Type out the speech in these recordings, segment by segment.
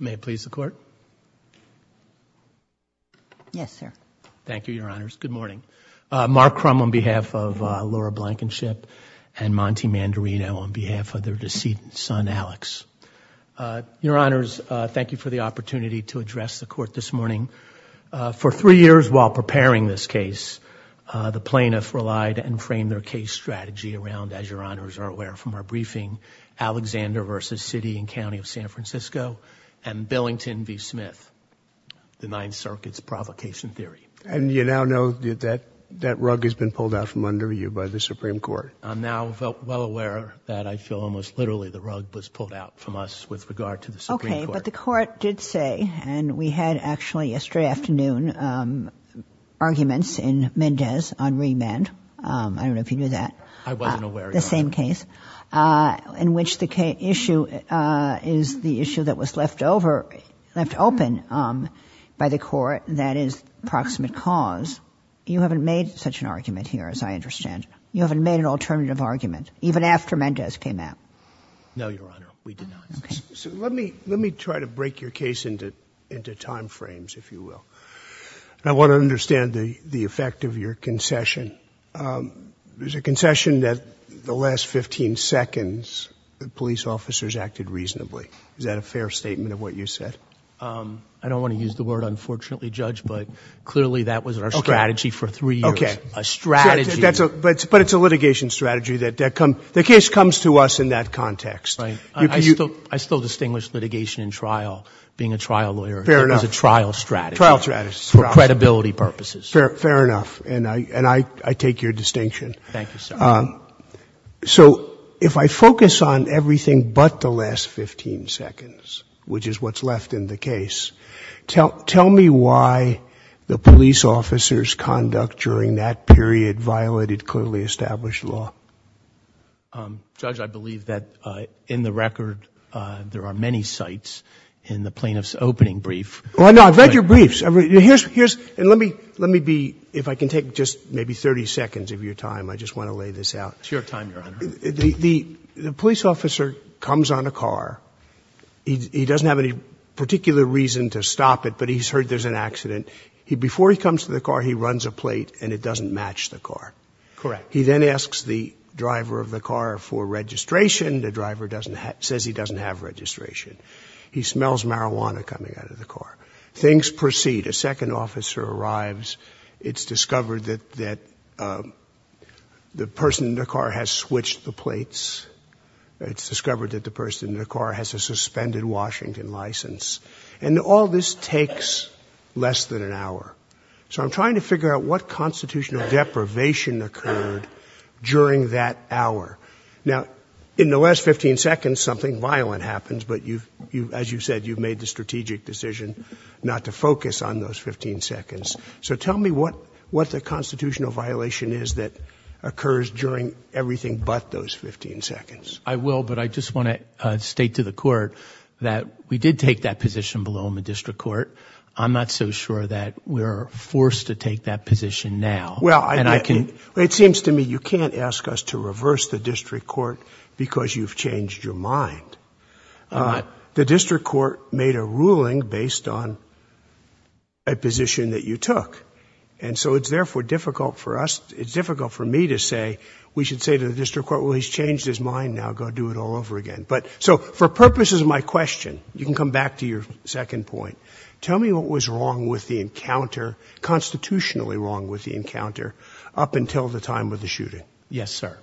May it please the court? Yes, sir. Thank you, your honors. Good morning. Mark Crum on behalf of Laura Blankenship and Monty Mandarino on behalf of their decedent son, Alex. Your honors, thank you for the opportunity to address the court this morning. For three years while preparing this case, the plaintiffs relied and framed their case strategy around, as and Billington v. Smith, the Ninth Circuit's provocation theory. And you now know that rug has been pulled out from under you by the Supreme Court. I'm now well aware that I feel almost literally the rug was pulled out from us with regard to the Supreme Court. Okay, but the court did say, and we had actually yesterday afternoon arguments in Mendez on the issue that was left over, left open by the court, that is proximate cause. You haven't made such an argument here, as I understand. You haven't made an alternative argument, even after Mendez came out. No, your honor, we did not. Okay. So let me, let me try to break your case into, into time frames, if you will. I want to understand the effect of your concession. There's a concession that the last 15 seconds, the police officers acted reasonably. Is that a fair statement of what you said? I don't want to use the word unfortunately, Judge, but clearly that was our strategy for three years. Okay. A strategy. But it's a litigation strategy that comes, the case comes to us in that context. Right. I still, I still distinguish litigation and trial, being a trial lawyer. Fair enough. It was a trial strategy. Trial strategy. For credibility purposes. Fair enough. And I, I take your distinction. Thank you, sir. So if I focus on everything but the last 15 seconds, which is what's left in the case, tell, tell me why the police officers' conduct during that period violated clearly established law. Judge, I believe that in the record there are many sites in the plaintiff's opening brief. Well, no, I've read your briefs. Here's, and let me, let me be, if I can take just maybe 30 seconds of your time, I just want to lay this out. It's your time, Your Honor. The, the, the police officer comes on a car. He, he doesn't have any particular reason to stop it, but he's heard there's an accident. He, before he comes to the car, he runs a plate and it doesn't match the car. Correct. He then asks the driver of the car for registration. The driver doesn't have, says he doesn't have registration. He smells marijuana coming out of the car. Things proceed. A second officer arrives. It's discovered that, that the person in the car has switched the plates. It's discovered that the person in the car has a suspended Washington license. And all this takes less than an hour. So I'm trying to figure out what constitutional deprivation occurred during that hour. Now, in the last 15 seconds, something violent happens, but you've, you've, as you've said, you've made the strategic decision not to focus on those 15 seconds. So tell me what, what the constitutional violation is that occurs during everything but those 15 seconds. I will, but I just want to state to the court that we did take that position below in the district court. I'm not so sure that we're forced to take that position now. Well, and I can, it seems to me, you can't ask us to reverse the district court because you've changed your mind. The district court made a ruling based on a position that you took. And so it's therefore difficult for us, it's difficult for me to say, we should say to the district court, well, he's changed his mind now, go do it all over again. But so for purposes of my question, you can come back to your second point. Tell me what was wrong with the encounter, constitutionally wrong with the encounter up until the time of the shooting? Yes, sir.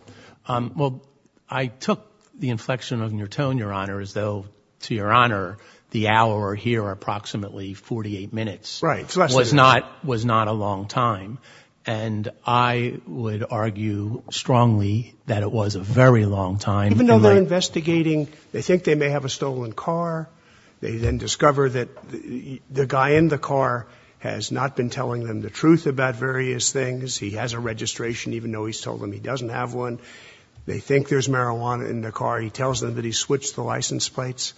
Um, well, I took the inflection of your tone, your honor, as though to your honor, the hour here are approximately 48 minutes, right? So that was not, was not a long time. And I would argue strongly that it was a very long time, even though they're investigating, they think they may have a stolen car. They then discover that the guy in the car has not been telling them the truth about various things. He has a registration, even though he's told them he doesn't have one. They think there's marijuana in the car. He tells them that he switched the license plates.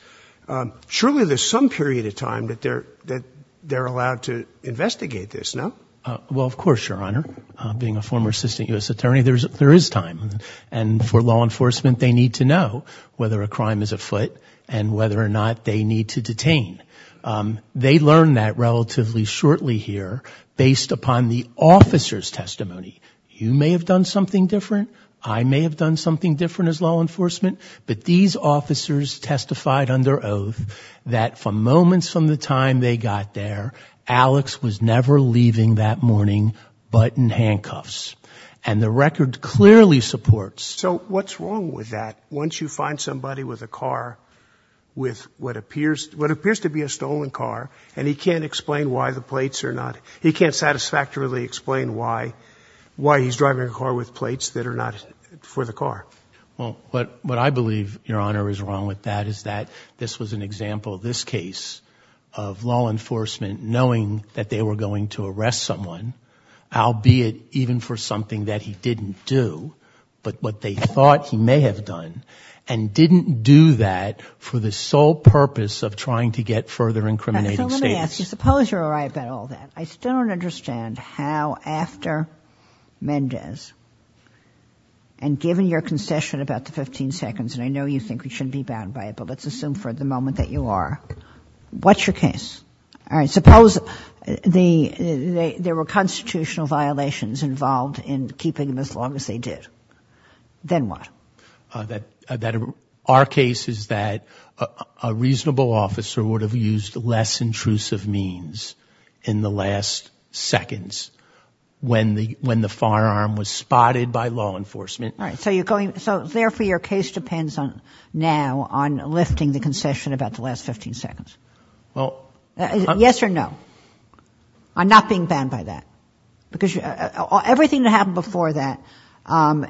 Um, surely there's some period of time that they're, that they're allowed to investigate this now. Uh, well, of course, your honor, uh, being a former assistant U.S. attorney, there's, there is time and for law enforcement, they need to know whether a crime is afoot and whether or not they need to detain. Um, they learned that relatively shortly here based upon the officer's testimony. You may have done something different. I may have done something different as law enforcement, but these officers testified under oath that from moments from the time they got there, Alex was never leaving that morning, but in handcuffs and the record clearly supports. So what's wrong with that? Once you find somebody with a car with what appears, what appears to be a stolen car and he can't explain why the plates are not, he can't satisfactorily explain why, why he's driving a car with plates that are not for the car. Well, what, what I believe your honor is wrong with that is that this was an example of this case of law enforcement knowing that they were going to arrest someone, I'll be it even for something that he didn't do, but what they thought he may have done and didn't do that for the sole purpose of trying to get further incriminating statements. So let me ask you, suppose you're all right about all that. I still don't understand how after Mendez and given your concession about the 15 seconds, and I know you think we shouldn't be bound by it, but let's assume for the moment that you are, what's your case? All right. Suppose the, the, there were constitutional violations involved in keeping them as long as they did. Then what? Uh, that, that our case is that a reasonable officer would have used less intrusive means in the last seconds when the, when the firearm was spotted by law enforcement. All right. So you're going, so therefore your case depends on now on lifting the concession about the last 15 seconds. Well, yes or no. I'm not being bound by that because everything that happened before that, um,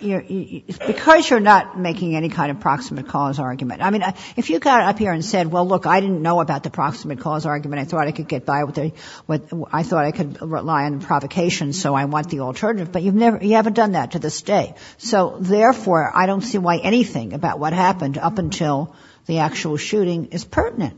you know, because you're not making any kind of proximate cause argument. I mean, if you got up here and said, well, look, I didn't know about the proximate cause argument. I thought I could get by with a, with, I thought I could rely on provocation. So I want the alternative, but you've never, you haven't done that to this day. So therefore I don't see why anything about what happened up until the actual shooting is pertinent.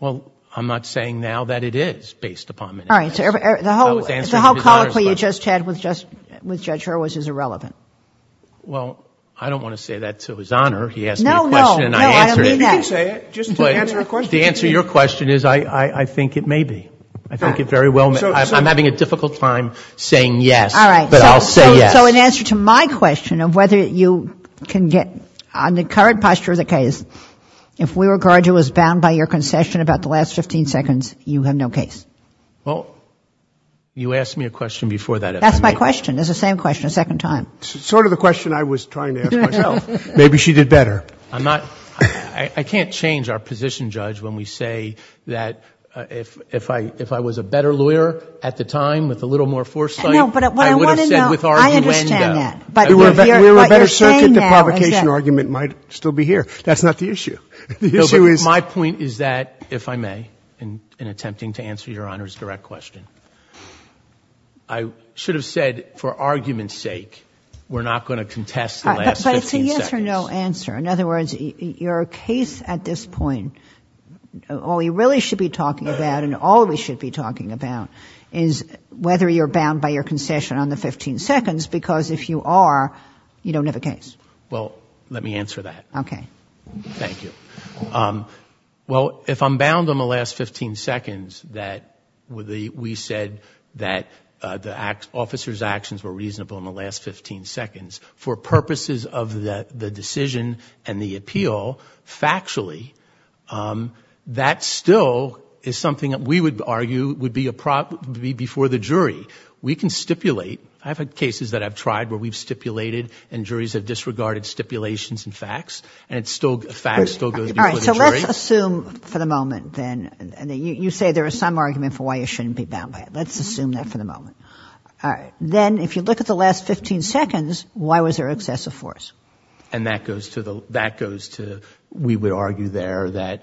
Well, I'm not saying now that it is based upon Mendez. All right. So the whole, the whole colloquy you just had with Judge Hurwitz is irrelevant. Well, I don't want to say that to his honor. He asked me a question and I answered it. You can say it, just to answer a question. The answer to your question is I, I think it may be. I think it very well, I'm having a difficult time saying yes, but I'll say yes. So in answer to my question of whether you can get, on the current posture of the case, if we regard you as bound by your concession about the last 15 seconds, you have no case. Well, you asked me a question before that. That's my question. It's the same question a second time. Sort of the question I was trying to ask myself. Maybe she did better. I'm not, I can't change our position, Judge, when we say that if, if I, if I was a better lawyer at the time with a little more foresight, I would have said with our new end up. I understand that. We're a better circuit, the provocation argument might still be here. That's not the issue. The issue is. My point is that, if I may, in attempting to answer your honor's direct question, I should have said for argument's sake, we're not going to contest the last 15 seconds. But it's a yes or no answer. In other words, your case at this point, all we really should be talking about and all we should be talking about is whether you're bound by your concession on the 15 seconds, because if you are, you don't have a case. Well, let me answer that. Okay. Thank you. Well, if I'm bound on the last 15 seconds that we said that the officer's actions were reasonable in the last 15 seconds for purposes of the decision and the appeal, factually, that still is something that we would argue would be before the jury. We can stipulate. I've had cases that I've tried where we've stipulated and juries have disregarded stipulations and facts, and facts still go before the jury. All right. So let's assume for the moment then, you say there is some argument for why you shouldn't be bound by it. Let's assume that for the moment. All right. Then, if you look at the last 15 seconds, why was there excessive force? And that goes to, we would argue there that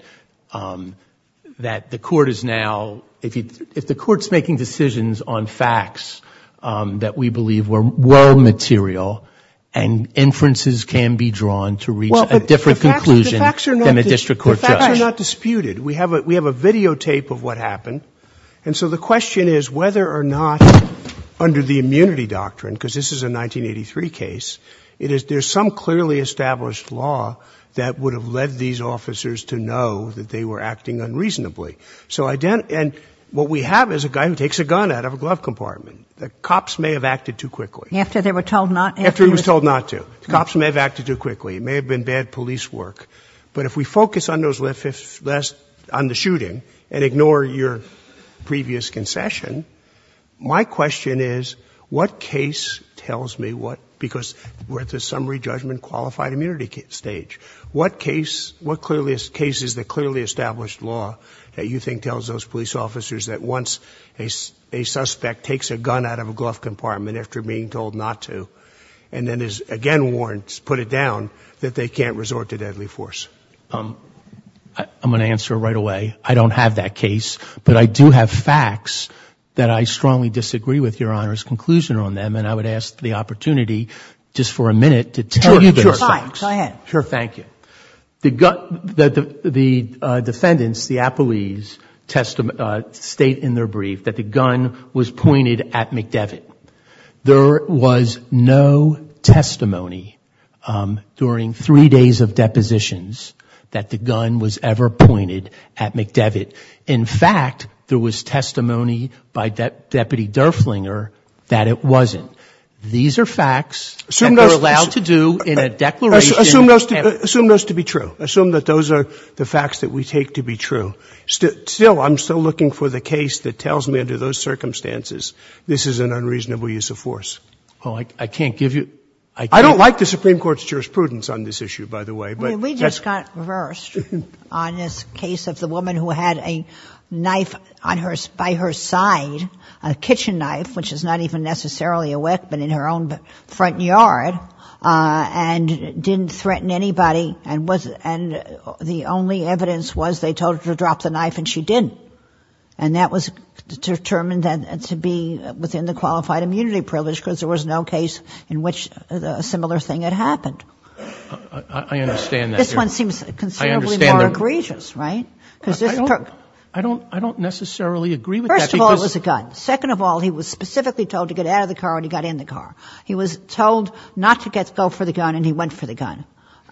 the court is now, if the court's making decisions on facts that we believe were well material and inferences can be drawn to reach a different conclusion than a district court judge. The facts are not disputed. We have a videotape of what happened. And so the question is whether or not under the immunity doctrine, because this is a 1983 case, it is there's some clearly established law that would have led these officers to know that they were acting unreasonably. So what we have is a guy who takes a gun out of a glove compartment. The cops may have acted too quickly. After they were told not to. After he was told not to. The cops may have acted too quickly. It may have been bad police work. But if we focus on the shooting and ignore your previous concession, my question is what case tells me what, because we're at the summary judgment qualified immunity stage. What case, what clearly is cases that clearly established law that you think tells those police officers that once a suspect takes a gun out of a glove compartment after being told not to, and then is again, warrants, put it down that they can't resort to deadly force. Um, I'm going to answer right away. I don't have that case, but I do have facts that I strongly disagree with your honor's conclusion on them. And I would ask the opportunity just for a minute to tell you, go ahead. Sure. Thank you. The gun, the, the, uh, defendants, the appellees testimony, uh, state in their brief that the gun was pointed at McDevitt. There was no testimony, um, during three days of depositions that the gun was ever pointed at McDevitt. In fact, there was testimony by deputy Durflinger that it wasn't. So these are facts that we're allowed to do in a declaration. Assume those to be true. Assume that those are the facts that we take to be true still. I'm still looking for the case that tells me under those circumstances, this is an unreasonable use of force. Oh, I can't give you, I don't like the Supreme court's jurisprudence on this issue, by the way. We just got reversed on this case of the woman who had a knife on her, by her side, a kitchen knife, which is not even necessarily a wick, but in her own front yard, uh, and didn't threaten anybody. And was, and the only evidence was they told her to drop the knife and she didn't. And that was determined to be within the qualified immunity privilege because there was no case in which a similar thing had happened. I understand that. This one seems considerably more egregious, right? Because I don't, I don't, I don't necessarily agree with that. First of all, it was a gun. Second of all, he was specifically told to get out of the car and he got in the car. He was told not to get, go for the gun and he went for the gun.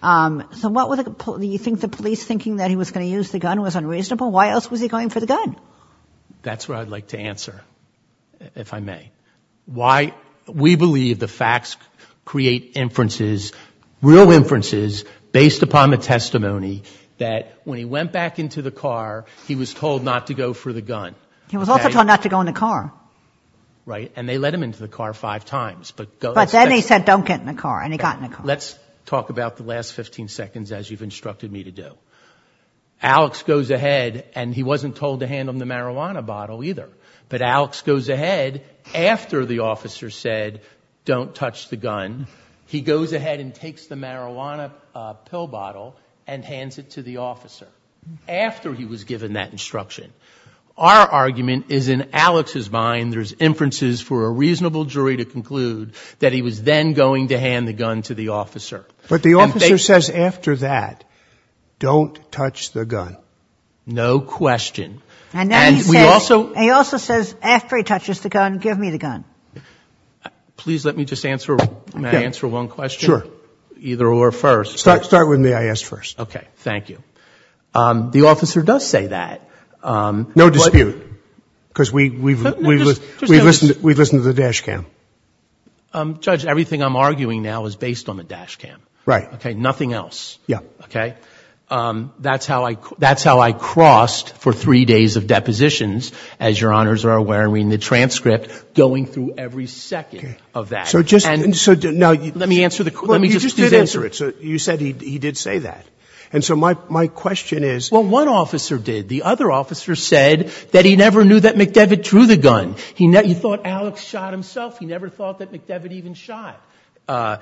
Um, so what were the, do you think the police thinking that he was going to use the gun was unreasonable? Why else was he going for the gun? That's what I'd like to answer, if I may. Why we believe the facts create inferences, real inferences based upon the testimony that when he went back into the car, he was told not to go for the gun. He was also told not to go in the car. Right. And they let him into the car five times. But then he said, don't get in the car and he got in the car. Let's talk about the last 15 seconds as you've instructed me to do. Alex goes ahead and he wasn't told to hand him the marijuana bottle either, but Alex goes ahead after the officer said, don't touch the gun. After he was given that instruction, our argument is in Alex's mind. There's inferences for a reasonable jury to conclude that he was then going to hand the gun to the officer. But the officer says after that, don't touch the gun. No question. And we also, he also says, after he touches the gun, give me the gun. Please let me just answer. May I answer one question, either or first. Start with me. I asked first. Okay. Thank you. The officer does say that. No dispute. Because we've listened to the dash cam. Judge, everything I'm arguing now is based on the dash cam. Right. Okay. Nothing else. Yeah. Okay. That's how I crossed for three days of depositions, as your honors are aware, I mean the transcript going through every second of that. So just, so now. Let me answer the question. You just didn't answer it. You said he did say that. And so my question is. Well, one officer did. The other officer said that he never knew that McDevitt drew the gun. He thought Alex shot himself. He never thought that McDevitt even shot. And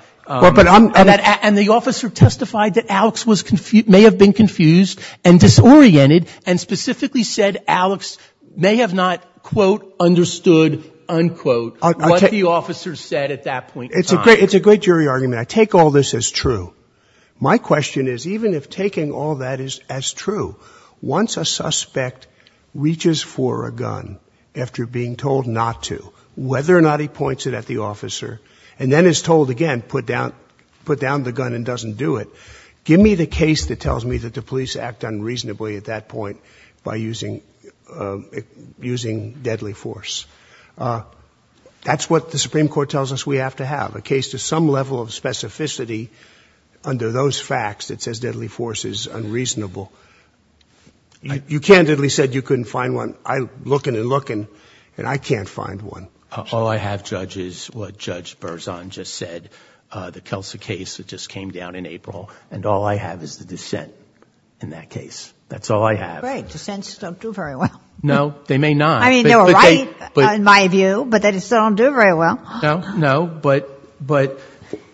the officer testified that Alex may have been confused and disoriented and specifically said Alex may have not, quote, understood, unquote, what the officer said at that point in time. It's a great jury argument. I take all this as true. My question is, even if taking all that is as true, once a suspect reaches for a gun after being told not to, whether or not he points it at the officer, and then is told again, put down, put down the gun and doesn't do it. Give me the case that tells me that the police act unreasonably at that point by using, using deadly force. That's what the Supreme Court tells us we have to have. A case to some level of specificity under those facts that says deadly force is unreasonable. You candidly said you couldn't find one. I'm looking and looking, and I can't find one. All I have, Judge, is what Judge Berzon just said, the Kelsey case that just came down in April. And all I have is the dissent in that case. That's all I have. Great. Dissents don't do very well. No, they may not. I mean, they were right in my view, but they still don't do very well. No, no. But, but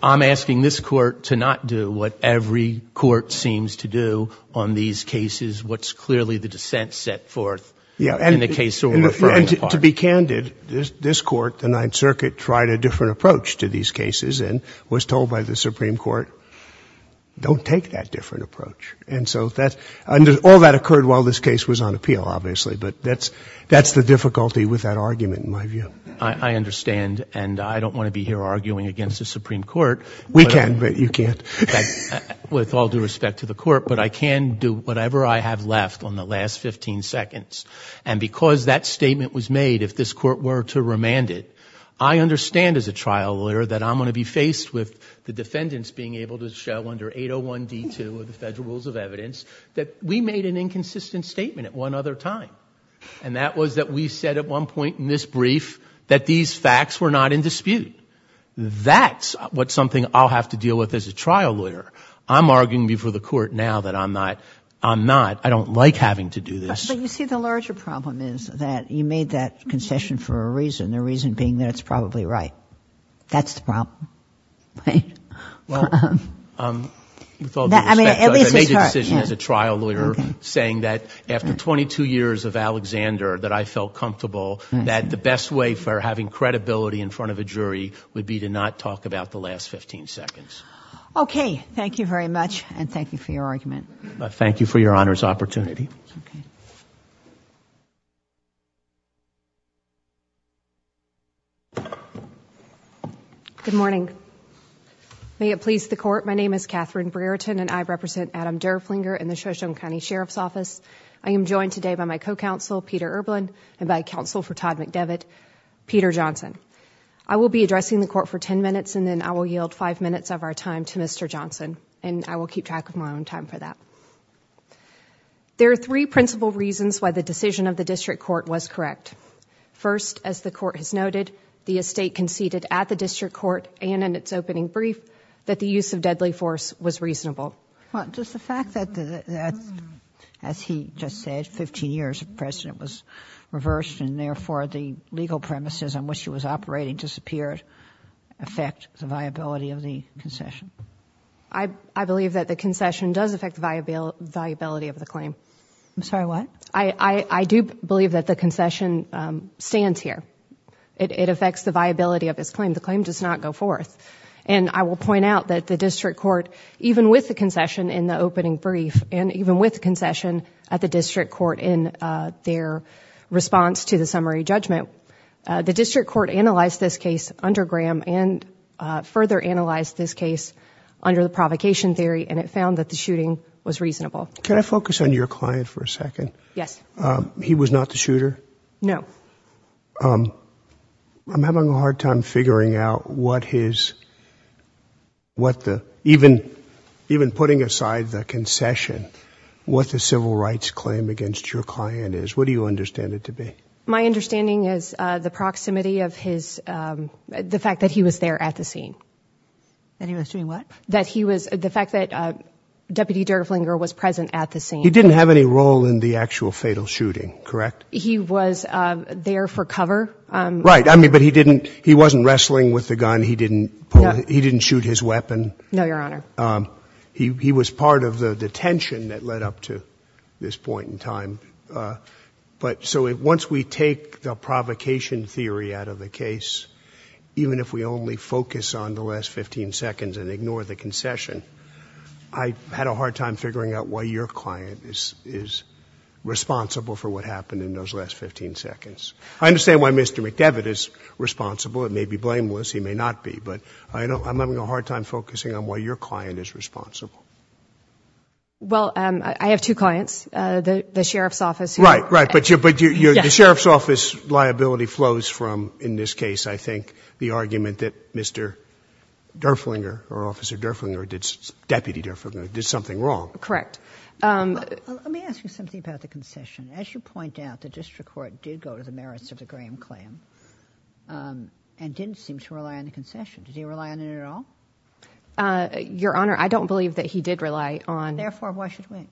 I'm asking this court to not do what every court seems to do on these cases, what's clearly the dissent set forth in the case we're referring to. To be candid, this court, the Ninth Circuit, tried a different approach to these cases and was told by the Supreme Court, don't take that different approach. And so that, all that occurred while this case was on appeal, obviously, but that's, that's the difficulty with that argument in my view. I understand, and I don't want to be here arguing against the Supreme Court. We can, but you can't. With all due respect to the court, but I can do whatever I have left on the last 15 seconds. And because that statement was made, if this court were to remand it, I understand as a trial lawyer that I'm going to be faced with the defendants being able to show under 801 D2 of the Federal Rules of Evidence that we made an inconsistent statement at one other time. And that was that we said at one point in this brief that these facts were not in dispute. That's what's something I'll have to deal with as a trial lawyer. I'm arguing before the court now that I'm not, I'm not, I don't like having to do this. But you see, the larger problem is that you made that concession for a reason, the reason being that it's probably right. That's the problem. Right? Well, with all due respect, I made the decision as a trial lawyer saying that after 22 years of Alexander, that I felt comfortable that the best way for having credibility in front of a jury would be to not talk about the last 15 seconds. Okay. Thank you very much. And thank you for your argument. Thank you for your honor's opportunity. Okay. Good morning. May it please the court. My name is Catherine Brereton and I represent Adam Derflinger in the Shoshone County Sheriff's Office. I am joined today by my co-counsel Peter Erblin and by counsel for Todd McDevitt, Peter Johnson. I will be addressing the court for 10 minutes and then I will yield five minutes of our time to Mr. Johnson and I will keep track of my own time for that. There are three principal reasons why the decision of the district court was correct. First, as the court has noted, the estate conceded at the district court and in its opening brief that the use of deadly force was reasonable. Does the fact that, as he just said, 15 years of precedent was reversed and therefore the legal premises on which it was operating disappeared affect the viability of the concession? I believe that the concession does affect the viability of the claim. I'm sorry, what? I do believe that the concession stands here. It affects the viability of this claim. The claim does not go forth. I will point out that the district court, even with the concession in the opening brief and even with concession at the district court in their response to the summary judgment, the district court analyzed this case under Graham and further analyzed this case under the provocation theory and it found that the shooting was reasonable. Can I focus on your client for a second? Yes. He was not the shooter? No. So, I'm having a hard time figuring out what his, what the, even putting aside the concession, what the civil rights claim against your client is. What do you understand it to be? My understanding is the proximity of his, the fact that he was there at the scene. That he was doing what? That he was, the fact that Deputy Derflinger was present at the scene. He didn't have any role in the actual fatal shooting, correct? He was there for cover. Right. I mean, but he didn't, he wasn't wrestling with the gun. He didn't pull, he didn't shoot his weapon. No, Your Honor. He was part of the detention that led up to this point in time. But, so once we take the provocation theory out of the case, even if we only focus on the last 15 seconds and ignore the concession, I had a hard time figuring out why your client is responsible for what happened in those last 15 seconds. I understand why Mr. McDevitt is responsible. It may be blameless. He may not be. But, I don't, I'm having a hard time focusing on why your client is responsible. Well, I have two clients. The Sheriff's Office. Right, right. But, the Sheriff's Office liability flows from, in this case, I think, the argument that Mr. Derflinger, or Officer Derflinger, or Deputy Derflinger, did something wrong. Correct. Let me ask you something about the concession. As you point out, the district court did go to the merits of the Graham claim and didn't seem to rely on the concession. Did he rely on it at all? Your Honor, I don't believe that he did rely on... Therefore, why should we?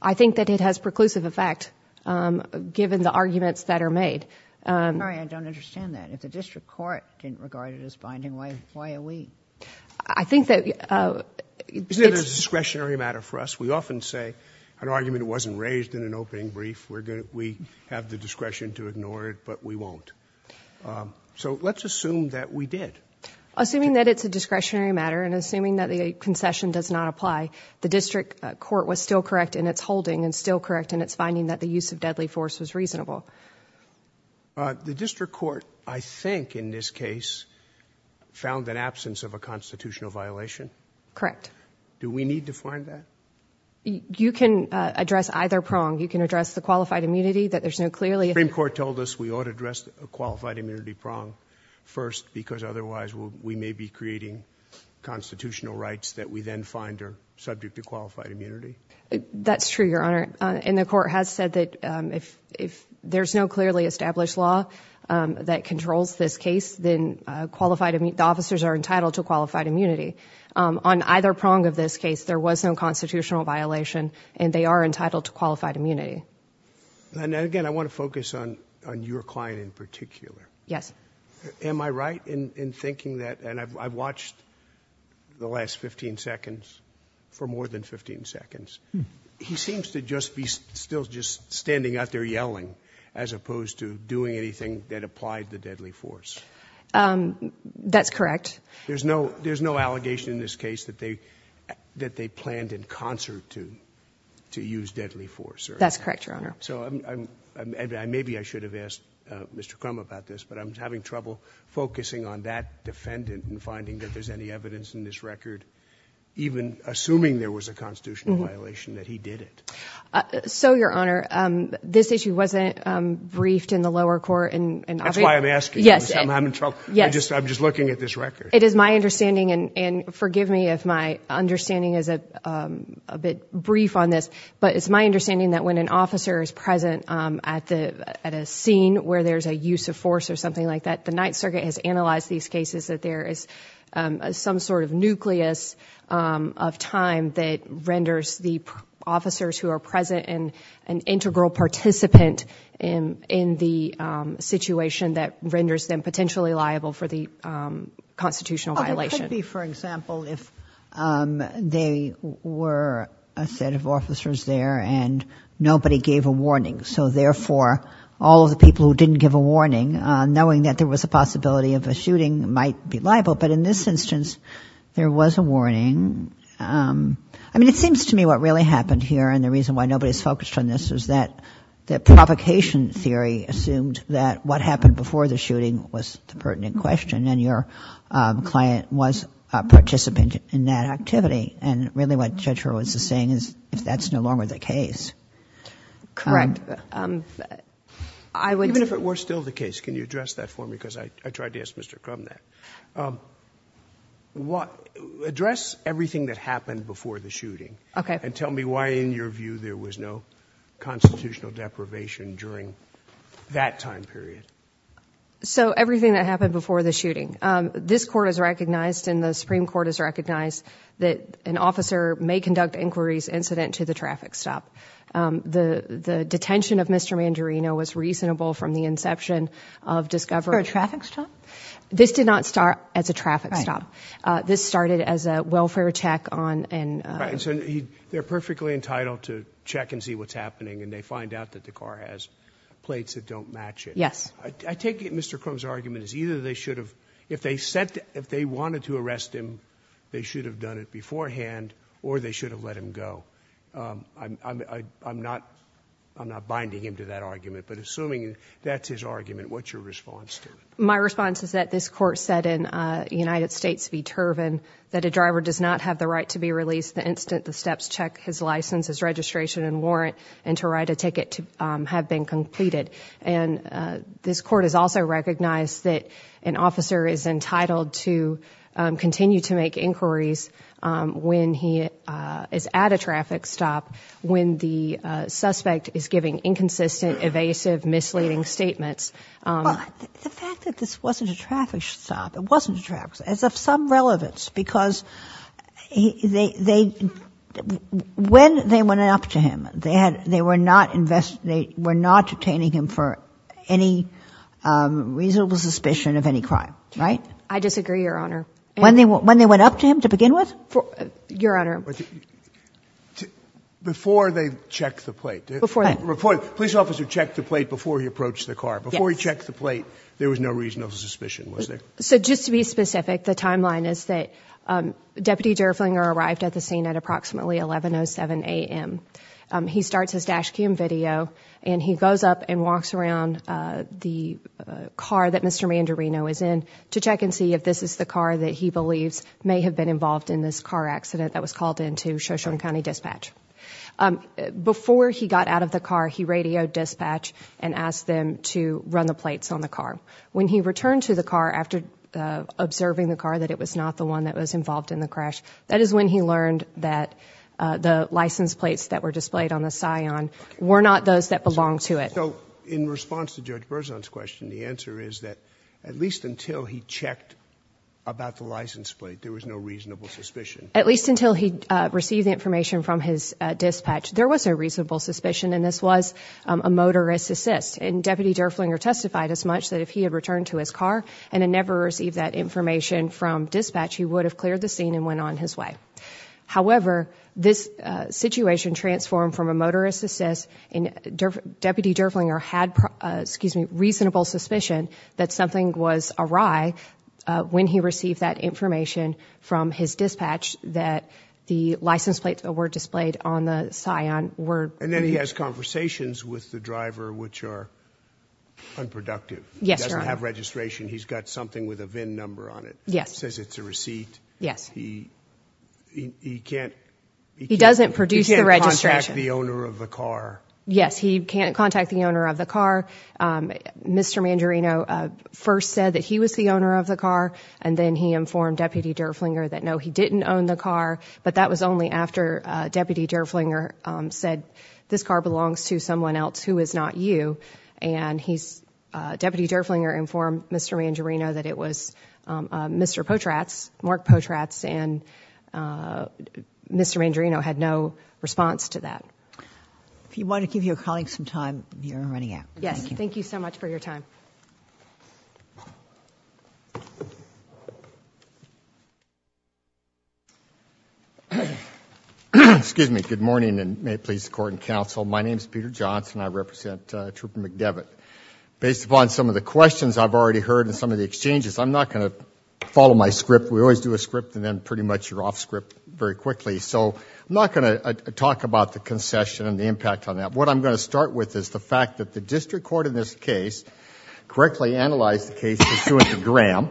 I think that it has preclusive effect, given the arguments that are made. I'm sorry, I don't understand that. If the district court didn't regard it as binding, why are we? I think that... Isn't it a discretionary matter for us? We often say an argument wasn't raised in an opening brief. We have the discretion to ignore it, but we won't. So let's assume that we did. Assuming that it's a discretionary matter, and assuming that the concession does not apply, the district court was still correct in its holding, and still correct in its finding that the use of deadly force was reasonable. The district court, I think, in this case, found an absence of a constitutional violation? Correct. Do we need to find that? You can address either prong. You can address the qualified immunity, that there's no clearly... The Supreme Court told us we ought to address the qualified immunity prong first, because otherwise we may be creating constitutional rights that we then find are subject to qualified immunity? That's true, Your Honor. And the court has said that if there's no clearly established law that controls this On either prong of this case, there was no constitutional violation, and they are entitled to qualified immunity. And again, I want to focus on your client in particular. Yes. Am I right in thinking that, and I've watched the last 15 seconds, for more than 15 seconds, he seems to just be still just standing out there yelling, as opposed to doing anything that applied the deadly force? That's correct. There's no allegation in this case that they planned in concert to use deadly force? That's correct, Your Honor. So, maybe I should have asked Mr. Crum about this, but I'm having trouble focusing on that defendant and finding that there's any evidence in this record, even assuming there was a constitutional violation, that he did it. So Your Honor, this issue wasn't briefed in the lower court in... That's why I'm asking. Yes. I'm in trouble. I'm just looking at this record. It is my understanding, and forgive me if my understanding is a bit brief on this, but it's my understanding that when an officer is present at a scene where there's a use of force or something like that, the Ninth Circuit has analyzed these cases that there is some sort of nucleus of time that renders the officers who are present an integral participant in the situation that renders them potentially liable for the constitutional violation. It could be, for example, if they were a set of officers there and nobody gave a warning. So therefore, all of the people who didn't give a warning, knowing that there was a possibility of a shooting, might be liable. But in this instance, there was a warning. I mean, it seems to me what really happened here, and the reason why nobody's focused on this, is that the provocation theory assumed that what happened before the shooting was the pertinent question, and your client was a participant in that activity. And really what Judge Hurwitz is saying is, if that's no longer the case... Correct. I would... Even if it were still the case, can you address that for me, because I tried to ask Mr. Crum that. Address everything that happened before the shooting, and tell me why, in your view, there was no constitutional deprivation during that time period. So everything that happened before the shooting. This court has recognized, and the Supreme Court has recognized, that an officer may conduct inquiries incident to the traffic stop. The detention of Mr. Mandarino was reasonable from the inception of discovery... For a traffic stop? This did not start as a traffic stop. This started as a welfare check on... They're perfectly entitled to check and see what's happening, and they find out that the car has plates that don't match it. Yes. I take it Mr. Crum's argument is either they should have... if they wanted to arrest him, they should have done it beforehand, or they should have let him go. I'm not binding him to that argument, but assuming that's his argument, what's your response to it? My response is that this court said in United States v. Turvin that a driver does not have the right to be released the instant the steps check his license, his registration and warrant, and to write a ticket to have been completed. And this court has also recognized that an officer is entitled to continue to make inquiries when he is at a traffic stop, when the suspect is giving inconsistent, evasive, misleading statements. The fact that this wasn't a traffic stop, it wasn't a traffic stop, is of some relevance, because they... when they went up to him, they were not obtaining him for any reasonable suspicion of any crime, right? I disagree, Your Honor. When they went up to him to begin with? Your Honor... Before they checked the plate. Before what? Before the police officer checked the plate before he approached the car. Yes. Before he checked the plate, there was no reasonable suspicion, was there? So just to be specific, the timeline is that Deputy Derflinger arrived at the scene at approximately 11.07 a.m. He starts his dash cam video, and he goes up and walks around the car that Mr. Mandarino is in to check and see if this is the car that he believes may have been involved in this car accident that was called into Shoshone County Dispatch. Before he got out of the car, he radioed dispatch and asked them to run the plates on the car. When he returned to the car after observing the car, that it was not the one that was involved in the crash, that is when he learned that the license plates that were displayed on the Scion were not those that belonged to it. So, in response to Judge Berzon's question, the answer is that at least until he checked about the license plate, there was no reasonable suspicion? At least until he received the information from his dispatch, there was a reasonable suspicion, and this was a motorist assist, and Deputy Derflinger testified as much that if he had returned to his car and had never received that information from dispatch, he would have cleared the scene and went on his way. However, this situation transformed from a motorist assist, and Deputy Derflinger had a reasonable suspicion that something was awry when he received that information from his dispatch that the license plates that were displayed on the Scion were... And then he has conversations with the driver, which are unproductive? Yes, Your Honor. He doesn't have registration? He's got something with a VIN number on it? Yes. Says it's a receipt? Yes. He can't... He doesn't produce the registration. He can't contact the owner of the car? Yes, he can't contact the owner of the car. Mr. Mandarino first said that he was the owner of the car, and then he informed Deputy Derflinger that no, he didn't own the car, but that was only after Deputy Derflinger said, this car belongs to someone else who is not you. And Deputy Derflinger informed Mr. Mandarino that it was Mr. Potratz, Mark Potratz, and Mr. Mandarino had no response to that. If you want to give your colleague some time, you're running out. Yes. Thank you so much for your time. Excuse me. Good morning, and may it please the Court and Counsel. My name is Peter Johnson. I represent Trooper McDevitt. Based upon some of the questions I've already heard and some of the exchanges, I'm not going to follow my script. We always do a script, and then pretty much you're off script very quickly. So I'm not going to talk about the concession and the impact on that. What I'm going to start with is the fact that the district court in this case correctly analyzed the case pursuant to Graham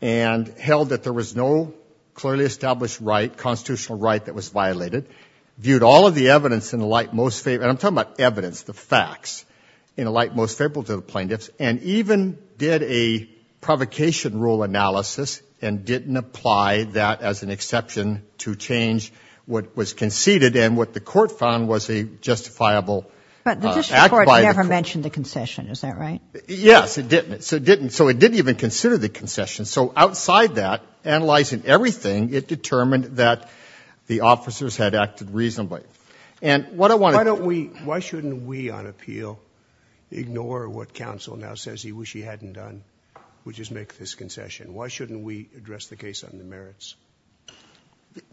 and held that there was no clearly established constitutional right that was violated, viewed all of the evidence, and I'm talking about evidence, the facts, in the light most favorable to the plaintiffs, and even did a provocation rule analysis and didn't apply that as an exception to change what was conceded. And what the court found was a justifiable act by the court. But the district court never mentioned the concession. Is that right? Yes. It didn't. So it didn't even consider the concession. So outside that, analyzing everything, it determined that the officers had acted reasonably. And what I want to... Why don't we, why shouldn't we on appeal ignore what counsel now says he wish he hadn't done, which is make this concession? Why shouldn't we address the case on the merits?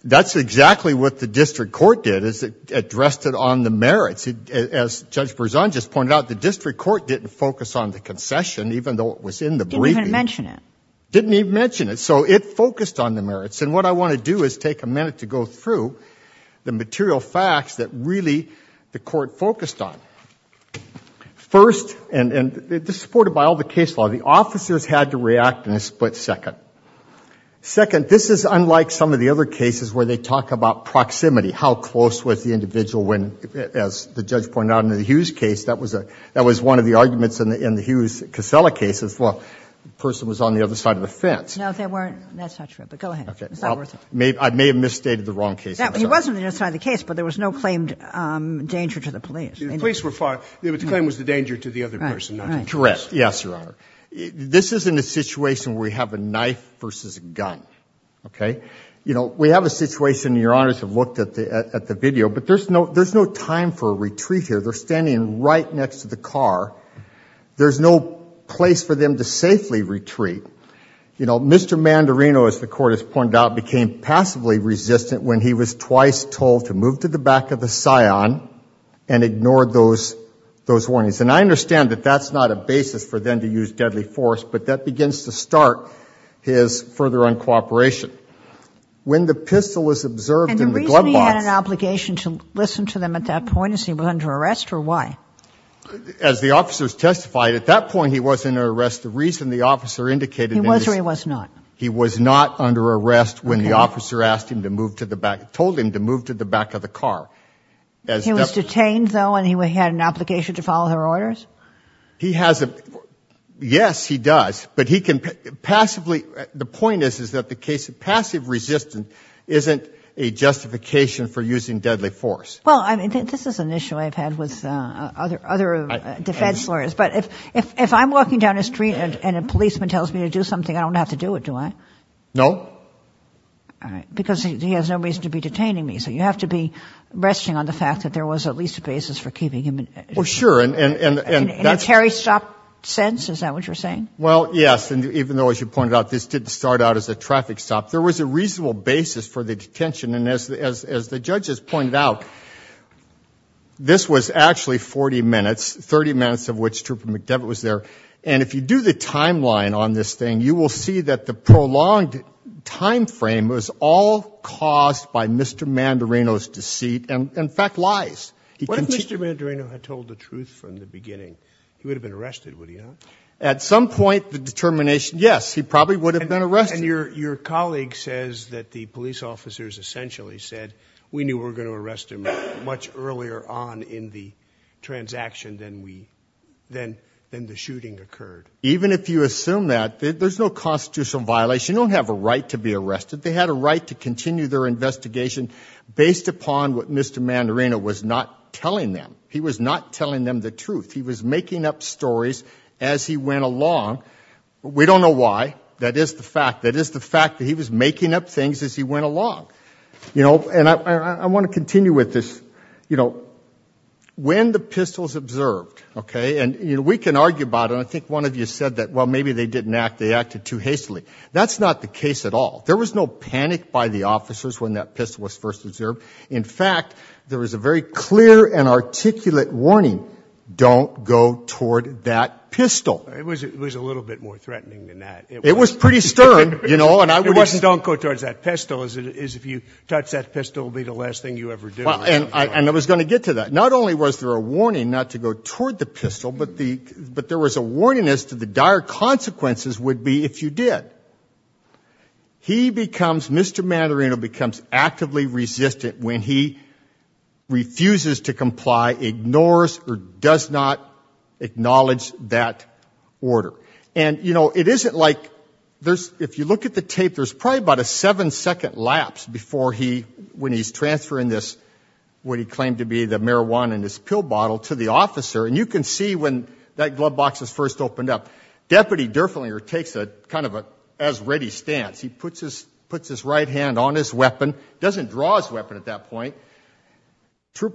That's exactly what the district court did, is it addressed it on the merits. As Judge Berzon just pointed out, the district court didn't focus on the concession even though it was in the briefing. It didn't even mention it. It didn't even mention it. So it focused on the merits. And what I want to do is take a minute to go through the material facts that really the court focused on. First and this is supported by all the case law, the officers had to react in a split second. Second, this is unlike some of the other cases where they talk about proximity, how close was the individual when, as the judge pointed out in the Hughes case, that was a, that was one of the arguments in the Hughes-Casella cases. Well, the person was on the other side of the fence. No, they weren't. That's not true, but go ahead. It's not worth it. I may have misstated the wrong case. He wasn't on the other side of the case, but there was no claimed danger to the police. The police were fine, but the claim was the danger to the other person. Correct. Yes, Your Honor. This isn't a situation where we have a knife versus a gun. Okay? You know, we have a situation, Your Honors have looked at the video, but there's no time for a retreat here. They're standing right next to the car. There's no place for them to safely retreat. You know, Mr. Mandarino, as the court has pointed out, became passively resistant when he was twice told to move to the back of the scion and ignored those warnings. And I understand that that's not a basis for them to use deadly force, but that begins to start his further uncooperation. When the pistol was observed in the glove box... And the reason he had an obligation to listen to them at that point, is he was under arrest or why? As the officers testified, at that point he was under arrest. The reason the officer indicated that he was... He was or he was not? He was not under arrest when the officer asked him to move to the back, told him to move to the back of the car. He was detained though and he had an obligation to follow her orders? He has a... Yes, he does, but he can passively... The point is, is that the case of passive resistance isn't a justification for using deadly force. Well, I mean, this is an issue I've had with other defense lawyers, but if I'm walking down the street and a policeman tells me to do something, I don't have to do it, do I? No. All right. Because he has no reason to be detaining me. So you have to be resting on the fact that there was at least a basis for keeping him in... Well, sure, and... In a carry stop sense, is that what you're saying? Well, yes. And even though, as you pointed out, this didn't start out as a traffic stop, there was a reasonable basis for the detention. And as the judges pointed out, this was actually 40 minutes, 30 minutes of which Trooper McDevitt was there. And if you do the timeline on this thing, you will see that the prolonged timeframe was all caused by Mr. Mandarino's deceit and, in fact, lies. What if Mr. Mandarino had told the truth from the beginning? He would have been arrested, would he not? At some point, the determination, yes, he probably would have been arrested. And your colleague says that the police officers essentially said, we knew we were going to arrest him much earlier on in the transaction than the shooting occurred. Even if you assume that, there's no constitutional violation. You don't have a right to be arrested. They had a right to continue their investigation based upon what Mr. Mandarino was not telling them. He was not telling them the truth. He was making up stories as he went along. We don't know why. That is the fact. That is the fact that he was making up things as he went along. You know, and I want to continue with this. You know, when the pistols observed, okay, and, you know, we can argue about it, and I think one of you said that, well, maybe they didn't act, they acted too hastily. That's not the case at all. There was no panic by the officers when that pistol was first observed. In fact, there was a very clear and articulate warning, don't go toward that pistol. It was a little bit more threatening than that. It was pretty stern, you know. It wasn't don't go towards that pistol as if you touch that pistol, it will be the last thing you ever do. And I was going to get to that. Not only was there a warning not to go toward the pistol, but there was a warning as to the dire consequences would be if you did. He becomes, Mr. Mandarino becomes actively resistant when he refuses to comply, ignores or does not acknowledge that order. And, you know, it isn't like there's, if you look at the tape, there's probably about a seven second lapse before he, when he's transferring this, what he claimed to be the marijuana and his pill bottle to the officer. And you can see when that glove box is first opened up. Deputy Durflinger takes a kind of a as ready stance. He puts his right hand on his weapon, doesn't draw his weapon at that point.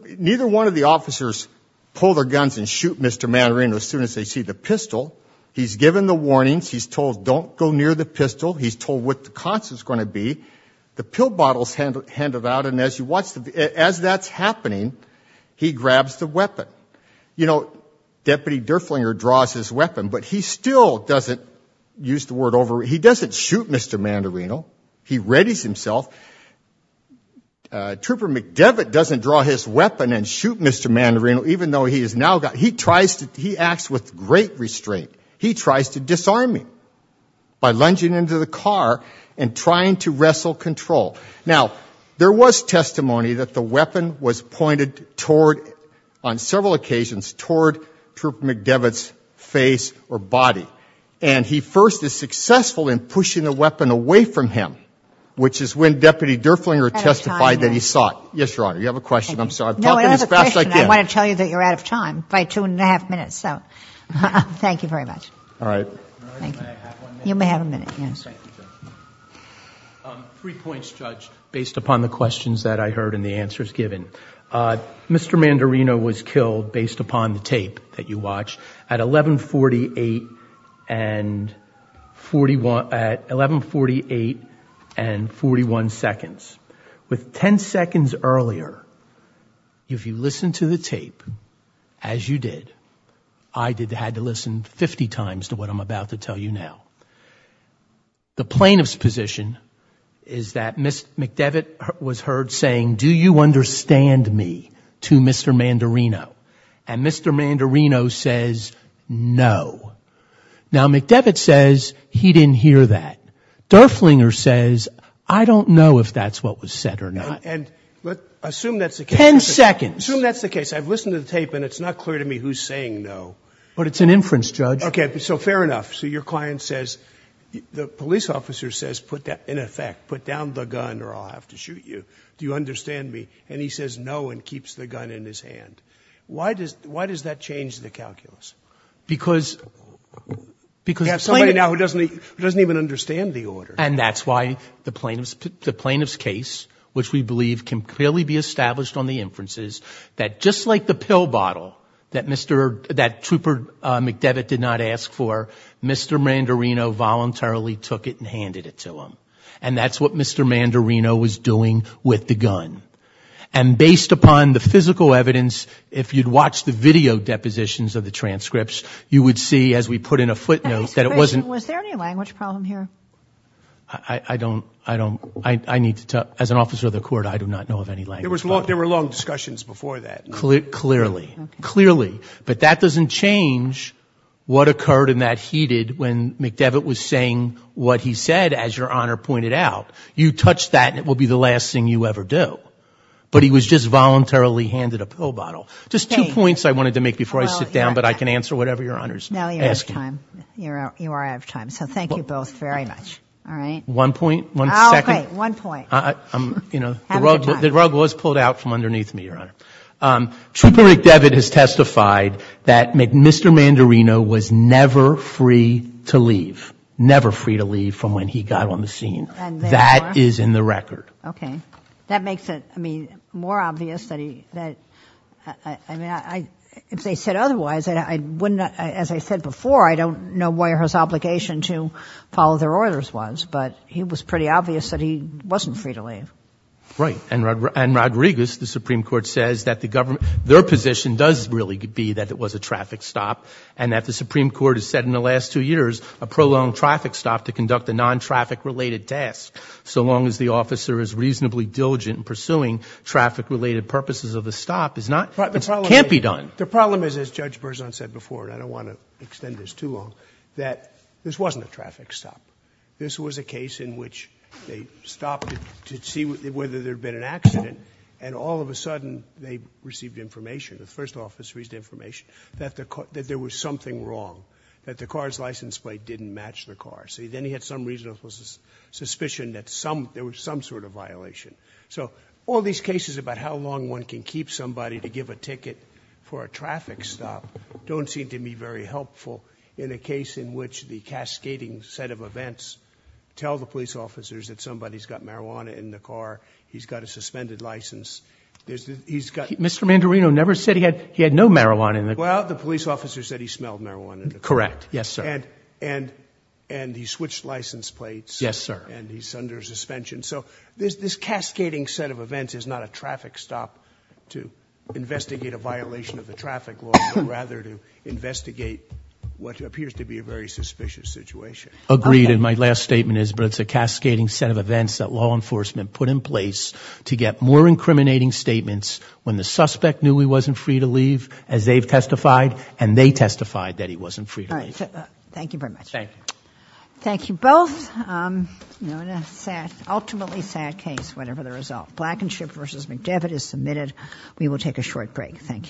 Neither one of the officers pull their guns and shoot Mr. Mandarino as soon as they see the pistol. He's given the warnings. He's told don't go near the pistol. He's told what the consequence is going to be. The pill bottle is handed out. And as you watch, as that's happening, he grabs the weapon. You know, Deputy Durflinger draws his weapon, but he still doesn't, use the word over, he doesn't shoot Mr. Mandarino. He readies himself. Trooper McDevitt doesn't draw his weapon and shoot Mr. Mandarino, even though he has now got, he tries to, he acts with great restraint. He tries to disarm him by lunging into the car and trying to wrestle control. Now, there was testimony that the weapon was pointed toward, on several occasions, toward Trooper McDevitt's face or body. And he first is successful in pushing the weapon away from him, which is when Deputy Durflinger testified that he saw it. Yes, Your Honor. You have a question. I'm talking as fast as I can. No, I have a question. I want to tell you that you're out of time by two and a half minutes. So, thank you very much. All right. Thank you. You may have a minute. Yes. Thank you, Judge. Three points, Judge, based upon the questions that I heard and the answers given. Mr. Mandarino was killed, based upon the tape that you watched, at 11.48 and 41 seconds. With 10 seconds earlier, if you listened to the tape, as you did, I had to listen 50 times to what I'm about to tell you now. The plaintiff's position is that McDevitt was heard saying, do you understand me, to Mr. Mandarino. And Mr. Mandarino says, no. Now, McDevitt says he didn't hear that. Durflinger says, I don't know if that's what was said or not. Assume that's the case. Ten seconds. Assume that's the case. I've listened to the tape, and it's not clear to me who's saying no. But it's an inference, Judge. Okay. So fair enough. So your client says, the police officer says, in effect, put down the gun or I'll have to shoot you. Do you understand me? And he says no and keeps the gun in his hand. Why does that change the calculus? Because the plaintiff — You have somebody now who doesn't even understand the order. And that's why the plaintiff's case, which we believe can clearly be established on the inferences, that just like the pill bottle that Trooper McDevitt did not ask for, Mr. Mandarino voluntarily took it and handed it to him. And that's what Mr. Mandarino was doing with the gun. And based upon the physical evidence, if you'd watch the video depositions of the transcripts, you would see, as we put in a footnote, that it wasn't — Was there any language problem here? I don't — I need to tell — as an officer of the court, I do not know of any language problem. There were long discussions before that. Clearly. Clearly. But that doesn't change what occurred and that he did when McDevitt was saying what he said, as Your Honor pointed out. You touch that and it will be the last thing you ever do. But he was just voluntarily handed a pill bottle. Just two points I wanted to make before I sit down, but I can answer whatever Your Honor is asking. Now you're out of time. You are out of time. So thank you both very much. All right? One point. One second. Okay. One point. I'm — you know, the rug was pulled out from underneath me, Your Honor. Triple Rick Devitt has testified that Mr. Mandarino was never free to leave. Never free to leave from when he got on the scene. And therefore? That is in the record. Okay. That makes it, I mean, more obvious that he — that — I mean, if they said otherwise, I wouldn't — as I said before, I don't know where his obligation to follow their orders was, but it was pretty obvious that he wasn't free to leave. Right. And Rodriguez, the Supreme Court, says that the government — their position does really be that it was a traffic stop and that the Supreme Court has said in the last two years a prolonged traffic stop to conduct a non-traffic-related task. So long as the officer is reasonably diligent in pursuing traffic-related purposes of the stop, it's not — it can't be done. The problem is, as Judge Berzon said before, and I don't want to extend this too long, that this wasn't a traffic stop. This was a case in which they stopped to see whether there had been an accident, and all of a sudden they received information, the first officer received information, that there was something wrong, that the car's license plate didn't match the car. So then he had some reasonable suspicion that some — there was some sort of violation. So all these cases about how long one can keep somebody to give a ticket for a traffic stop don't seem to be very helpful in a case in which the cascading set of events tell the police officers that somebody's got marijuana in the car, he's got a suspended license, he's got — Mr. Mandarino never said he had no marijuana in the car. Well, the police officer said he smelled marijuana in the car. Correct. Yes, sir. And he switched license plates. Yes, sir. And he's under suspension. So this cascading set of events is not a traffic stop to investigate a violation of the traffic law, but rather to investigate what appears to be a very suspicious situation. Agreed, and my last statement is, but it's a cascading set of events that law enforcement put in place to get more incriminating statements when the suspect knew he wasn't free to leave, as they've testified, and they testified that he wasn't free to leave. All right. Thank you very much. Thank you. Thank you both. An ultimately sad case, whatever the result. Blackenship v. McDevitt is submitted. We will take a short break. Thank you.